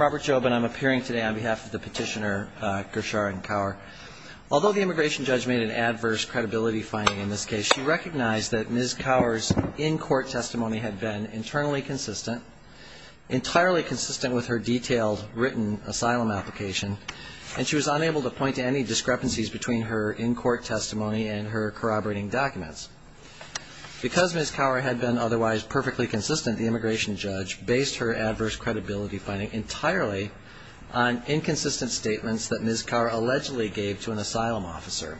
Robert Jobin I'm appearing today on behalf of the petitioner Gersharin Kaur. Although the immigration judge made an adverse credibility finding in this case, she recognized that Ms. Kaur's in-court testimony had been internally consistent, entirely consistent with her detailed written asylum application, and she was unable to point to any discrepancies between her in-court testimony and her corroborating documents. Because Ms. Kaur had been otherwise perfectly consistent, the immigration judge based her adverse credibility finding entirely on inconsistent statements that Ms. Kaur allegedly gave to an asylum officer.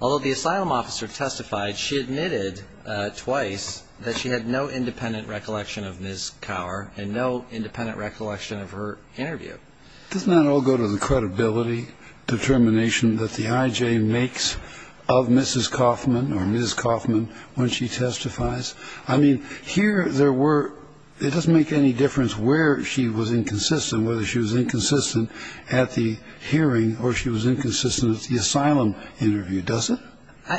Although the asylum officer testified, she admitted twice that she had no independent recollection of Ms. Kaur and no independent recollection of her interview. Kennedy Doesn't that all go to the credibility determination that the I.J. makes of Mrs. Kaufman or Ms. Kaufman when she testifies? I mean, here there were, it doesn't make any difference where she was inconsistent, whether she was inconsistent at the hearing or she was inconsistent at the asylum interview, does it? Robert Jobin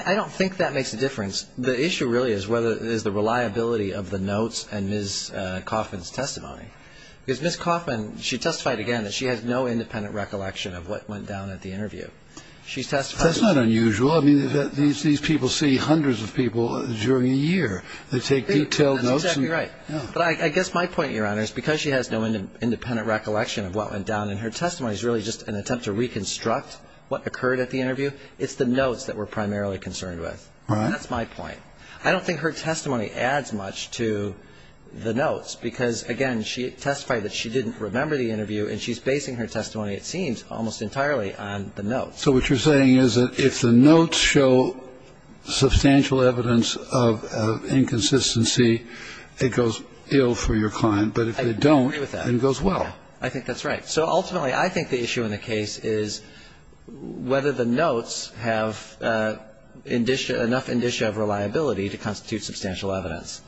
I don't think that makes a difference. The issue really is whether it is the reliability of the notes and Ms. Kaufman's testimony. Because Ms. Kaufman, she testified again that she has no independent recollection of what went down at the interview. She testified... Kennedy That's not unusual. I mean, these people see hundreds of people during a year. They take detailed notes... Robert Jobin But I guess my point, Your Honor, is because she has no independent recollection of what went down in her testimony is really just an attempt to reconstruct what occurred at the interview. It's the notes that we're primarily concerned with. Kennedy Right. Robert Jobin That's my point. I don't think her testimony adds much to the notes. Because, again, she testified that she didn't remember the interview, and she's basing her testimony, it seems, almost entirely on the notes. Kennedy So what you're saying is that if the notes show substantial evidence of inconsistency, it goes ill for your client. But if they don't... Robert Jobin I agree with that. Kennedy ...it goes well. Robert Jobin I think that's right. So ultimately, I think the issue in the case is whether the notes have enough indicia of reliability to constitute substantial evidence.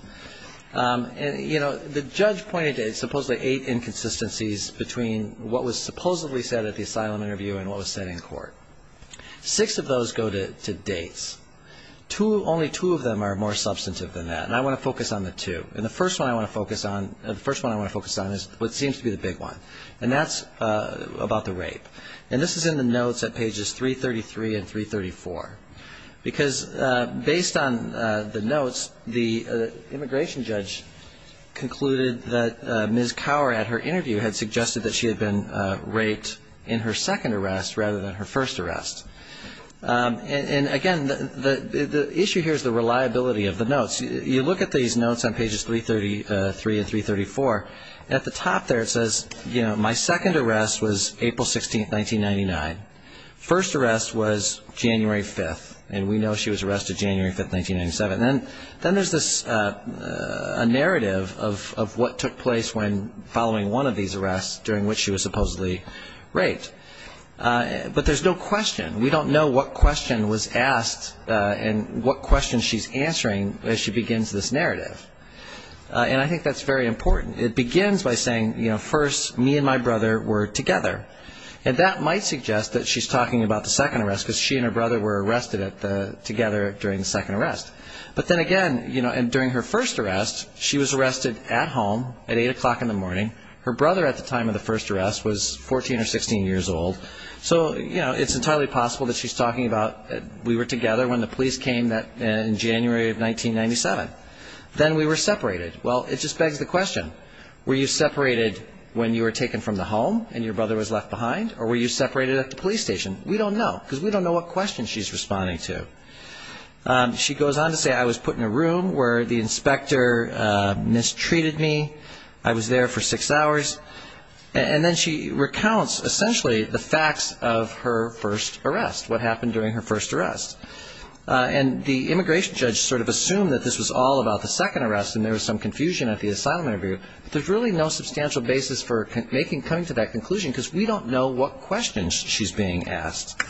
And, you know, the judge pointed to supposedly eight inconsistencies between what was supposedly said at the asylum interview and what was said in court. Six of those go to dates. Only two of them are more substantive than that. And I want to focus on the two. And the first one I want to focus on is what seems to be the big one. And that's about the rape. And this is in the notes at pages 333 and 334. Because based on the notes, the immigration judge concluded that Ms. Cower, at her interview, had suggested that she had been raped in her second arrest rather than her first arrest. And, again, the issue here is the reliability of the notes. You look at these notes on pages 333 and 334. At the top there, it says, you know, my second arrest was April 16th, 1999. First arrest was January 5th. And we know she was arrested January 5th, 1997. And then there's this second arrest. And there's a narrative of what took place when following one of these arrests during which she was supposedly raped. But there's no question. We don't know what question was asked and what question she's answering as she begins this narrative. And I think that's very important. It begins by saying, you know, first, me and my brother were together. And that might suggest that she's talking about the second arrest, because she and her brother were arrested together during the second arrest. But then again, you know, and during the first arrest, she was arrested at home at 8 o'clock in the morning. Her brother at the time of the first arrest was 14 or 16 years old. So, you know, it's entirely possible that she's talking about we were together when the police came in January of 1997. Then we were separated. Well, it just begs the question, were you separated when you were taken from the home and your brother was left behind? Or were you separated at the police station? We don't know, because we don't know what question she's responding to. She goes on to say, I was put in a room where the inspector mistreated me. I was there for six hours. And then she recounts, essentially, the facts of her first arrest, what happened during her first arrest. And the immigration judge sort of assumed that this was all about the second arrest, and there was some confusion at the asylum interview. But there's really no substantial basis for coming to that conclusion, because we don't know what question she's being asked.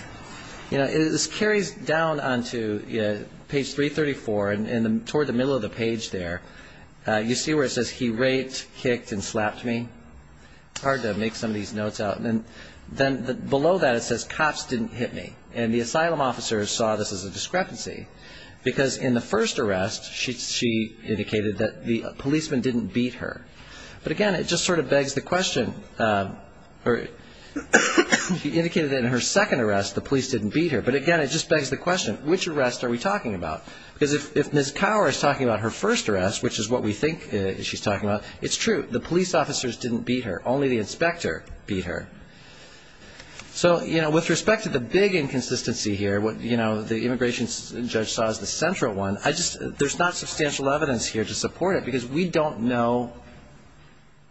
You know, this carries down onto page 334, and toward the middle of the page there, you see where it says, he raped, kicked, and slapped me. It's hard to make some of these notes out. And then below that it says, cops didn't hit me. And the asylum officer saw this as a discrepancy, because in the first arrest, she indicated that the policeman didn't beat her. But again, it just sort of begs the question, or indicated in her second arrest, the police didn't beat her. But again, it just begs the question, which arrest are we talking about? Because if Ms. Cower is talking about her first arrest, which is what we think she's talking about, it's true, the police officers didn't beat her. Only the inspector beat her. So, you know, with respect to the big inconsistency here, what the immigration judge saw as the central one, there's not substantial evidence here to support it, because we don't know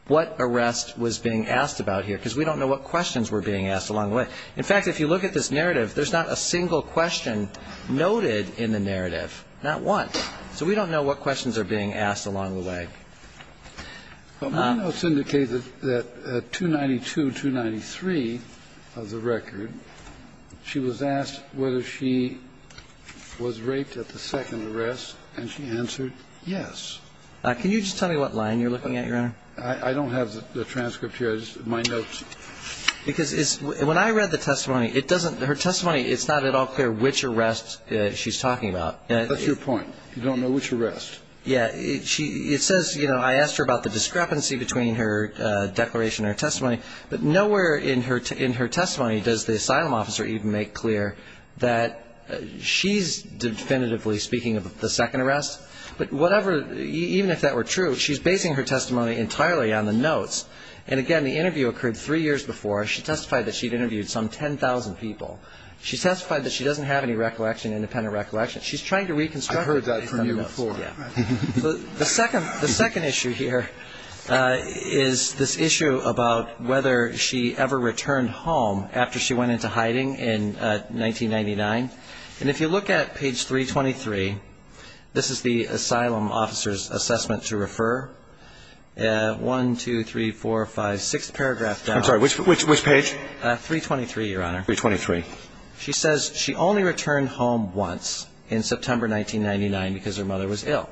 what arrest was being asked about here, because we don't know what questions were being asked along the way. In fact, if you look at this narrative, there's not a single question noted in the narrative, not one. So we don't know what questions are being asked along the way. Kennedy But my notes indicate that at 292, 293 of the record, she was asked whether she was raped at the second arrest, and she answered yes. Can you just tell me what line you're looking at, Your Honor? I don't have the transcript here. It's my notes. Because when I read the testimony, her testimony, it's not at all clear which arrest she's talking about. That's your point. You don't know which arrest. Yeah. It says, you know, I asked her about the discrepancy between her declaration and her testimony. But nowhere in her testimony does the asylum officer even make clear that she's definitively speaking of the second arrest. But whatever, even if that were true, she's basing her testimony entirely on the notes. And again, the interview occurred three years before. She testified that she'd interviewed some 10,000 people. She testified that she doesn't have any recollection, independent recollection. She's trying to reconstruct it based on notes. I heard that from you before. The second issue here is this issue about whether she ever returned home after she went into hiding in 1999. And if you look at page 323, this is the asylum officer's assessment to refer. One, two, three, four, five, six paragraphs down. I'm sorry. Which page? 323, Your Honor. 323. She says she only returned home once in September 1999 because her mother was ill.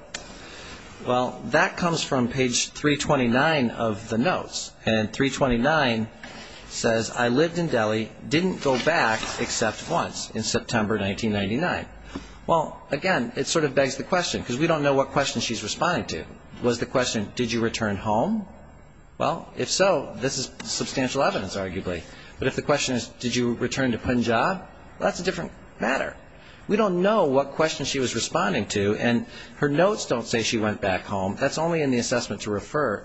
Well, that comes from page 329 of the notes. And 329 says, I lived in Delhi, didn't go back except once in September 1999. Well, again, it sort of begs the question, because we don't know what question she's responding to. Was the question, did you return home? Well, if so, this is substantial evidence, arguably. But if the question is, did you return to Punjab? Well, that's a different matter. We don't know what question she was responding to, and her notes don't say she went back home. That's only in the assessment to refer.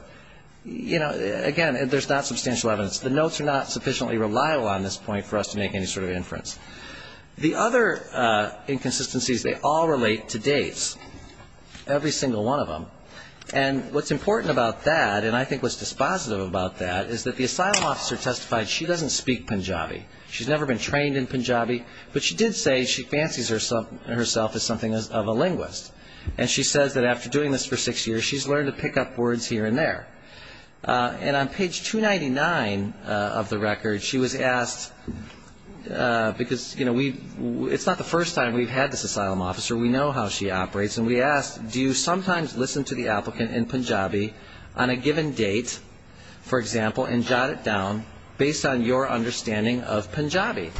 You know, again, there's not substantial evidence. The notes are not sufficiently reliable on this point for us to make any sort of inference. The other inconsistencies, they all relate to dates, every single one of them. And what's important about that, and I think what's dispositive about that, is that the asylum officer testified she doesn't speak Punjabi. She's never been trained in Punjabi. But she did say she fancies herself as something of a linguist. And she says that after doing this for six years, she's learned to pick up words here and there. And on page 299 of the record, she was asked, because, you know, it's not the first time we've had this asylum officer. We know how she operates. And we asked, do you sometimes listen to the applicant in Punjabi on a given date, for example, and jot it down based on your understanding of Punjabi?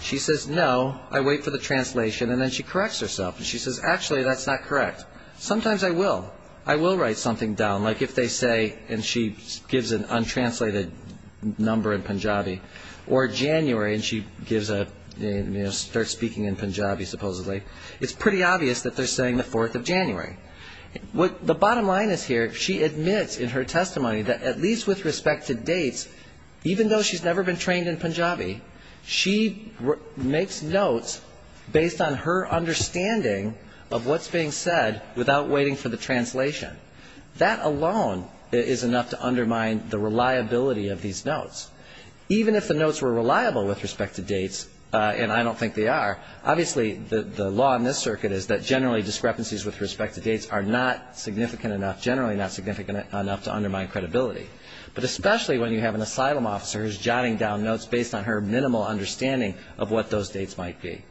She says, no, I wait for the translation, and then she corrects herself. And she says, actually, that's not correct. Sometimes I will. I will write something down, like if they say, and she gives an untranslated number in Punjabi, or January, and she gives a, you know, starts speaking in Punjabi, supposedly. It's pretty obvious that they're saying the 4th of January. The bottom line is here, she admits in her testimony that at least with respect to dates, even though she's never been trained in Punjabi, she makes notes based on her understanding of what's being said without waiting for the translation. That alone is enough to undermine the reliability of these notes. Even if the notes were reliable with respect to dates, and I don't think they are, obviously the law in this circuit is that generally discrepancies with respect to dates are not significant enough, generally not significant enough to undermine credibility. But especially when you have an asylum officer who's jotting down notes based on her minimal understanding of what those dates might be.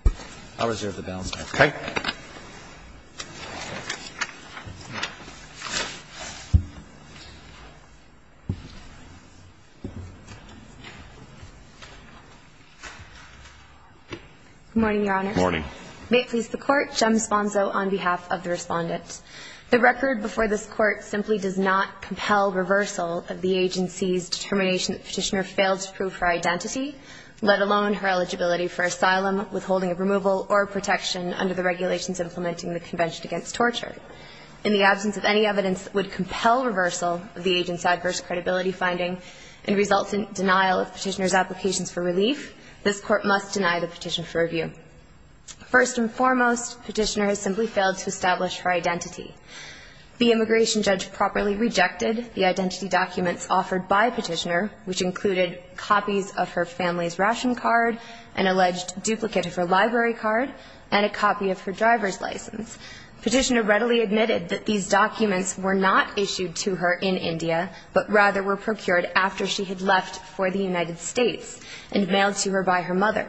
I'll reserve the balance. Okay. Good morning, Your Honor. Good morning. May it please the Court. Jem Sponzo on behalf of the Respondent. The record before this Court simply does not compel reversal of the agency's determination that the Petitioner failed to prove her identity, let alone her eligibility for asylum, withholding of removal, or protection under the regulations implementing the Convention Against Torture. In the absence of any evidence that would compel reversal of the agent's adverse credibility finding and result in denial of Petitioner's applications for relief, this Court must deny the petition for review. First and foremost, Petitioner has simply failed to establish her identity. The immigration judge properly rejected the identity documents offered by Petitioner, which included copies of her family's ration card, an alleged duplicate of her library card, and a copy of her driver's license. Petitioner readily admitted that these documents were not issued to her in India, but rather were procured after she had left for the United States and mailed to her by her mother.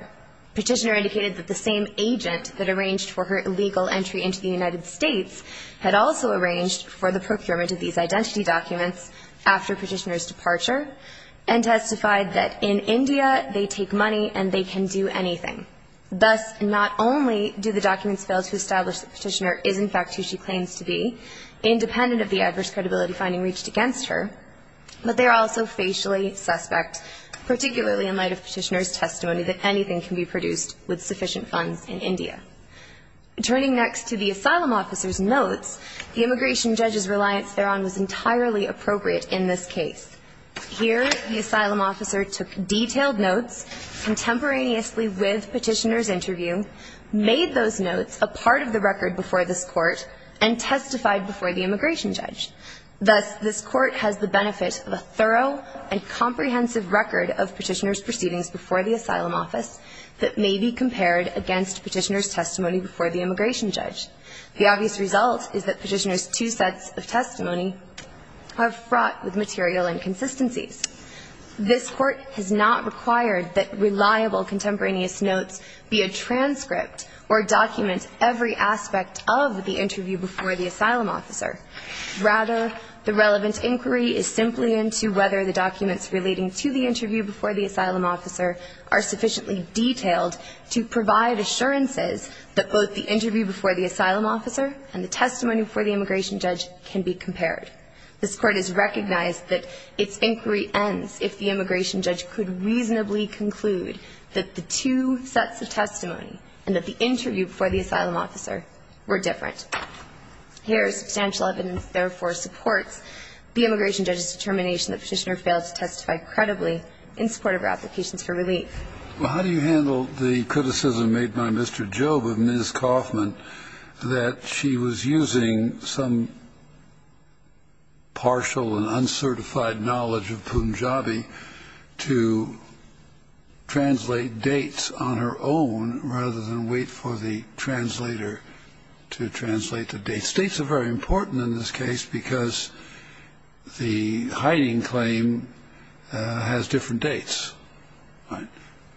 Petitioner indicated that the same agent that arranged for her illegal entry into the United States had also arranged for the procurement of these identity documents after Petitioner's departure. And testified that in India, they take money and they can do anything. Thus, not only do the documents fail to establish that Petitioner is, in fact, who she claims to be, independent of the adverse credibility finding reached against her, but they are also facially suspect, particularly in light of Petitioner's testimony that anything can be produced with sufficient funds in India. Turning next to the asylum officer's notes, the immigration judge's reliance thereon was entirely appropriate in this case. Here, the asylum officer took detailed notes contemporaneously with Petitioner's interview, made those notes a part of the record before this Court, and testified before the immigration judge. Thus, this Court has the benefit of a thorough and comprehensive record of Petitioner's proceedings before the asylum office that may be compared against Petitioner's testimony before the immigration judge. The obvious result is that Petitioner's two sets of testimony are fraught with material inconsistencies. This Court has not required that reliable contemporaneous notes be a transcript or document every aspect of the interview before the asylum officer. Rather, the relevant inquiry is simply into whether the documents relating to the interview before the asylum officer are sufficiently detailed to provide assurances that both the interview before the asylum officer and the testimony before the immigration judge can be compared. This Court has recognized that its inquiry ends if the immigration judge could reasonably conclude that the two sets of testimony and that the interview before the asylum officer were different. Here, substantial evidence, therefore, supports the immigration judge's determination that Petitioner failed to testify credibly in support of her applications for relief. Well, how do you handle the criticism made by Mr. Jobe of Ms. Kauffman that she was using some partial and uncertified knowledge of Punjabi to translate dates on her own rather than wait for the translator to translate the dates? Dates are very important in this case because the hiding claim has different dates. All right.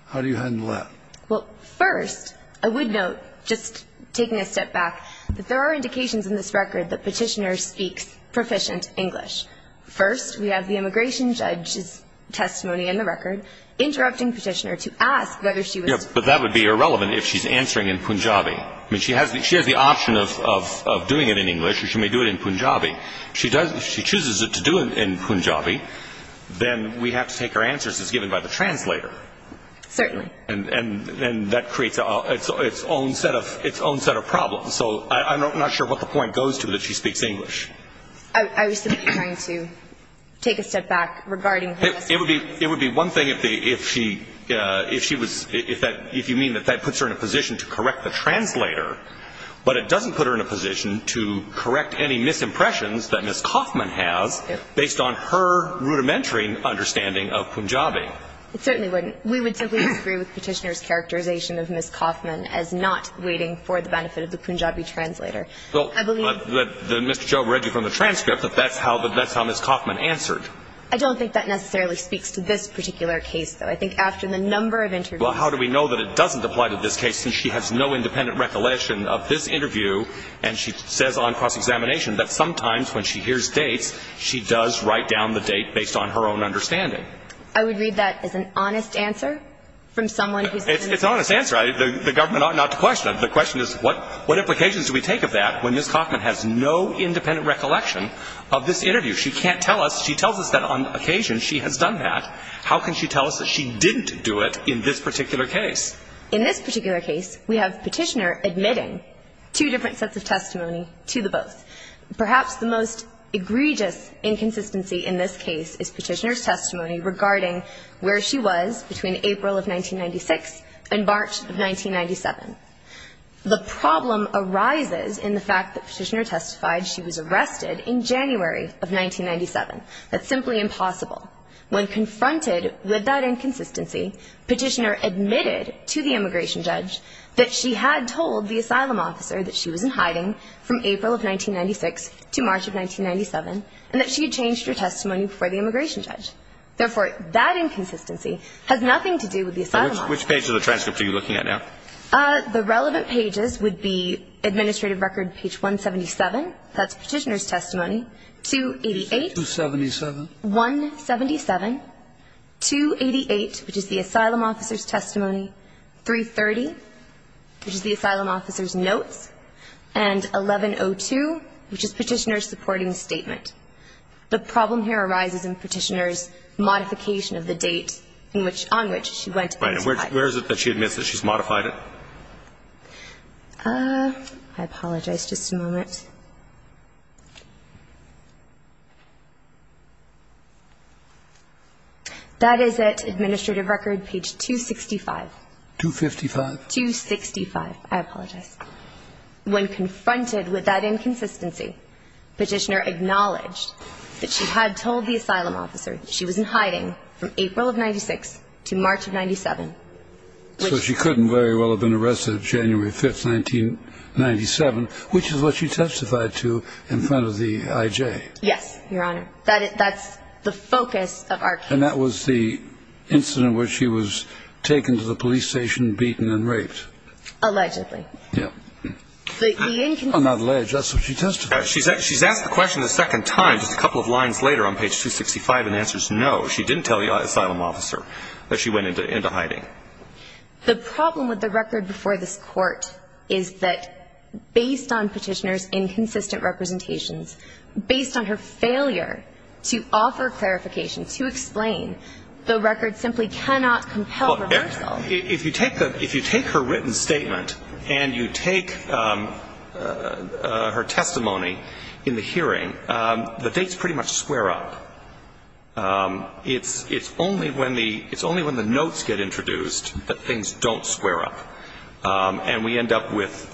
How do you handle that? Well, first, I would note, just taking a step back, that there are indications in this record that Petitioner speaks proficient English. First, we have the immigration judge's testimony in the record interrupting Petitioner to ask whether she was speaking in English. Yes, but that would be irrelevant if she's answering in Punjabi. I mean, she has the option of doing it in English or she may do it in Punjabi. She chooses to do it in Punjabi, then we have to take her answers as given by the translator. Certainly. And that creates its own set of problems. So I'm not sure what the point goes to that she speaks English. I was simply trying to take a step back regarding her testimony. It would be one thing if you mean that that puts her in a position to correct the translator, but it doesn't put her in a position to correct any misimpressions that Ms. Kauffman has based on her rudimentary understanding of Punjabi. It certainly wouldn't. We would simply disagree with Petitioner's characterization of Ms. Kauffman as not waiting for the benefit of the Punjabi translator. Well, Mr. Joe read you from the transcript that that's how Ms. Kauffman answered. I don't think that necessarily speaks to this particular case, though. I think after the number of interviews. Well, how do we know that it doesn't apply to this case since she has no independent recollection of this interview, and she says on cross-examination that sometimes when she hears dates, she does write down the date based on her own understanding. I would read that as an honest answer from someone who's been interviewed. It's an honest answer. The government ought not to question it. The question is what implications do we take of that when Ms. Kauffman has no independent recollection of this interview? She can't tell us. She tells us that on occasion she has done that. How can she tell us that she didn't do it in this particular case? In this particular case, we have Petitioner admitting two different sets of testimony to the both. Perhaps the most egregious inconsistency in this case is Petitioner's testimony regarding where she was between April of 1996 and March of 1997. The problem arises in the fact that Petitioner testified she was arrested in January of 1997. That's simply impossible. When confronted with that inconsistency, Petitioner admitted to the immigration judge that she had told the asylum officer that she was in hiding from April of 1996 to March of 1997 and that she had changed her testimony before the immigration judge. Therefore, that inconsistency has nothing to do with the asylum officer. Which page of the transcript are you looking at now? The relevant pages would be administrative record page 177, that's Petitioner's testimony, 288. 277. 177. 288, which is the asylum officer's testimony. 330, which is the asylum officer's notes. And 1102, which is Petitioner's supporting statement. The problem here arises in Petitioner's modification of the date on which she went into hiding. Right. And where is it that she admits that she's modified it? I apologize. Just a moment. That is at administrative record page 265. 255. 265. I apologize. When confronted with that inconsistency, Petitioner acknowledged that she had told the asylum officer that she was in hiding from April of 1996 to March of 1997. So she couldn't very well have been arrested January 5th, 1997, which is what she testified to in front of the I.J. Yes, Your Honor. That's the focus of our case. And that was the incident where she was taken to the police station, beaten and raped. Allegedly. Yes. On that ledge, that's what she testified. She's asked the question a second time just a couple of lines later on page 265 and answers no, she didn't tell the asylum officer that she went into hiding. The problem with the record before this Court is that based on Petitioner's inconsistent representations, based on her failure to offer clarification, to explain, the record simply cannot compel reversal. If you take her written statement and you take her testimony in the hearing, the dates pretty much square up. It's only when the notes get introduced that things don't square up. And we end up with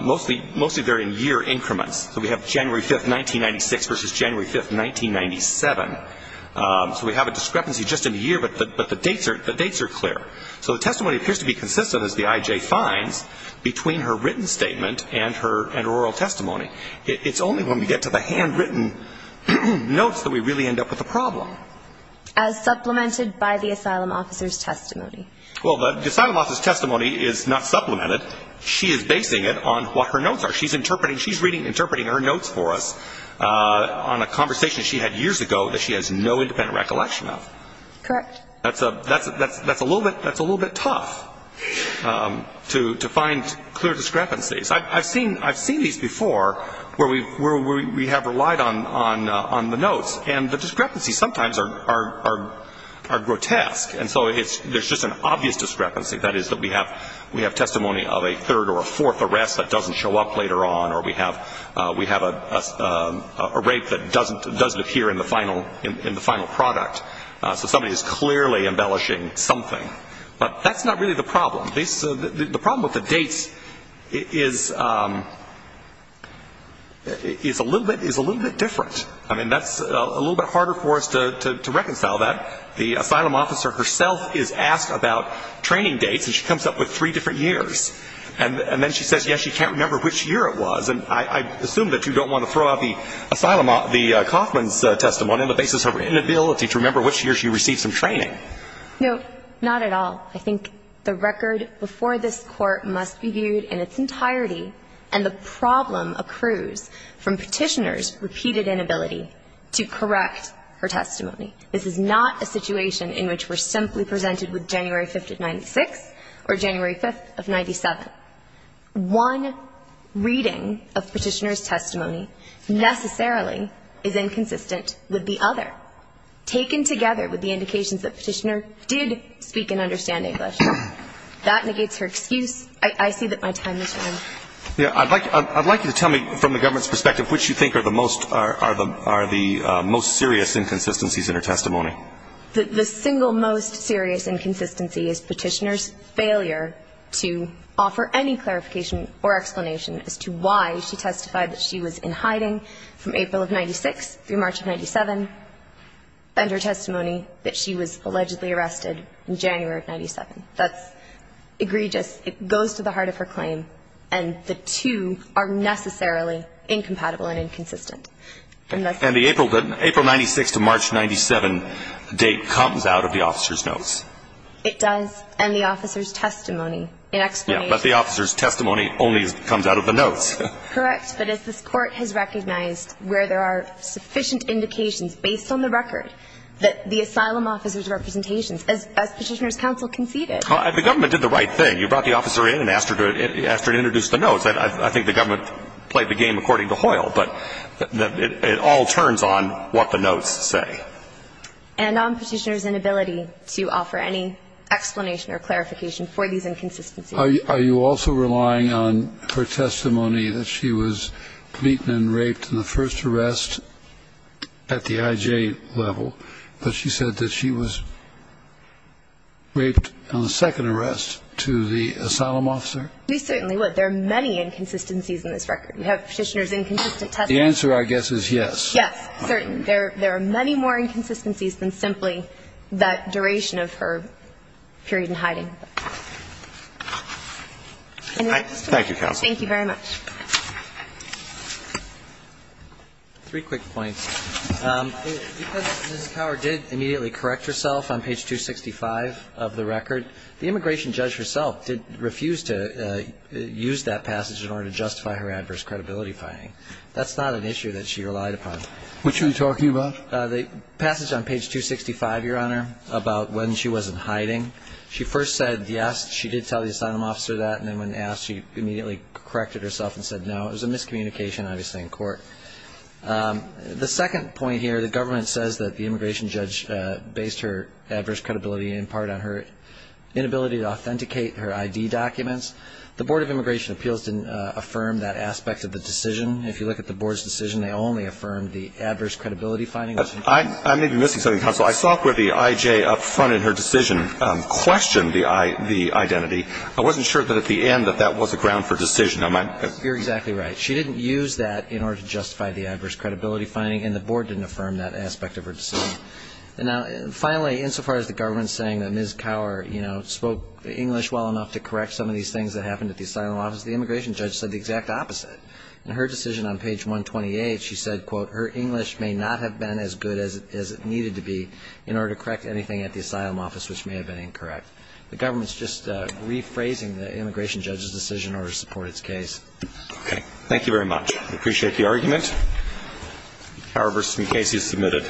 mostly varying year increments. So we have January 5th, 1996 versus January 5th, 1997. So we have a discrepancy just in the year, but the dates are clear. So the testimony appears to be consistent, as the I.J. finds, between her written statement and her oral testimony. It's only when we get to the handwritten notes that we really end up with a problem. As supplemented by the asylum officer's testimony. Well, the asylum officer's testimony is not supplemented. She is basing it on what her notes are. She's interpreting, she's reading and interpreting her notes for us on a conversation she had years ago that she has no independent recollection of. Correct. That's a little bit tough to find clear discrepancies. I've seen these before where we have relied on the notes, and the discrepancies sometimes are grotesque. And so there's just an obvious discrepancy. That is that we have testimony of a third or a fourth arrest that doesn't show up later on, or we have a rape that doesn't appear in the final product. So somebody is clearly embellishing something. But that's not really the problem. The problem with the dates is a little bit different. I mean, that's a little bit harder for us to reconcile that. The asylum officer herself is asked about training dates, and she comes up with three different years. And then she says, yes, she can't remember which year it was. And I assume that you don't want to throw out the asylum officer's testimony on the basis of her inability to remember which year she received some training. No, not at all. I think the record before this Court must be viewed in its entirety, and the problem accrues from Petitioner's repeated inability to correct her testimony. This is not a situation in which we're simply presented with January 5th of 1996 or January 5th of 1997. One reading of Petitioner's testimony necessarily is inconsistent with the other, taken together with the indications that Petitioner did speak and understand English. That negates her excuse. I see that my time has run out. I'd like you to tell me from the government's perspective which you think are the most serious inconsistencies in her testimony. The single most serious inconsistency is Petitioner's failure to offer any clarification or explanation as to why she testified that she was in hiding from April of 1996 through March of 1997, and her testimony that she was allegedly arrested in January of 1997. That's egregious. It goes to the heart of her claim, and the two are necessarily incompatible and inconsistent. And the April 96 to March 97 date comes out of the officer's notes. It does, and the officer's testimony, in explanation. But the officer's testimony only comes out of the notes. Correct, but as this Court has recognized where there are sufficient indications based on the record that the asylum officer's representations, as Petitioner's counsel conceded. The government did the right thing. You brought the officer in and asked her to introduce the notes. I think the government played the game according to Hoyle. But it all turns on what the notes say. And on Petitioner's inability to offer any explanation or clarification for these inconsistencies. Are you also relying on her testimony that she was beaten and raped in the first arrest at the IJ level, but she said that she was raped on the second arrest to the asylum officer? We certainly would. There are many inconsistencies in this record. You have Petitioner's inconsistent testimony. The answer, I guess, is yes. Yes, certainly. There are many more inconsistencies than simply that duration of her period in hiding. Thank you, Counsel. Thank you very much. Three quick points. Because Ms. Cower did immediately correct herself on page 265 of the record, the immigration judge herself refused to use that passage in order to justify her adverse credibility finding. That's not an issue that she relied upon. What are you talking about? The passage on page 265, Your Honor, about when she wasn't hiding. She first said yes, she did tell the asylum officer that. And then when asked, she immediately corrected herself and said no. It was a miscommunication, obviously, in court. The second point here, the government says that the immigration judge based her credibility in part on her inability to authenticate her ID documents. The Board of Immigration Appeals didn't affirm that aspect of the decision. If you look at the Board's decision, they only affirmed the adverse credibility finding. I may be missing something, Counsel. I saw where the IJ up front in her decision questioned the identity. I wasn't sure that at the end that that was a ground for decision. You're exactly right. She didn't use that in order to justify the adverse credibility finding, and the Board didn't affirm that aspect of her decision. And now, finally, insofar as the government's saying that Ms. Cower, you know, spoke English well enough to correct some of these things that happened at the asylum office, the immigration judge said the exact opposite. In her decision on page 128, she said, quote, her English may not have been as good as it needed to be in order to correct anything at the asylum office which may have been incorrect. The government's just rephrasing the immigration judge's decision in order to support its case. Okay. Thank you very much. I appreciate the argument. Cower versus Mukasey is submitted.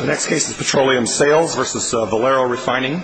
The next case is Petroleum Sales versus Valero Refining. Thank you.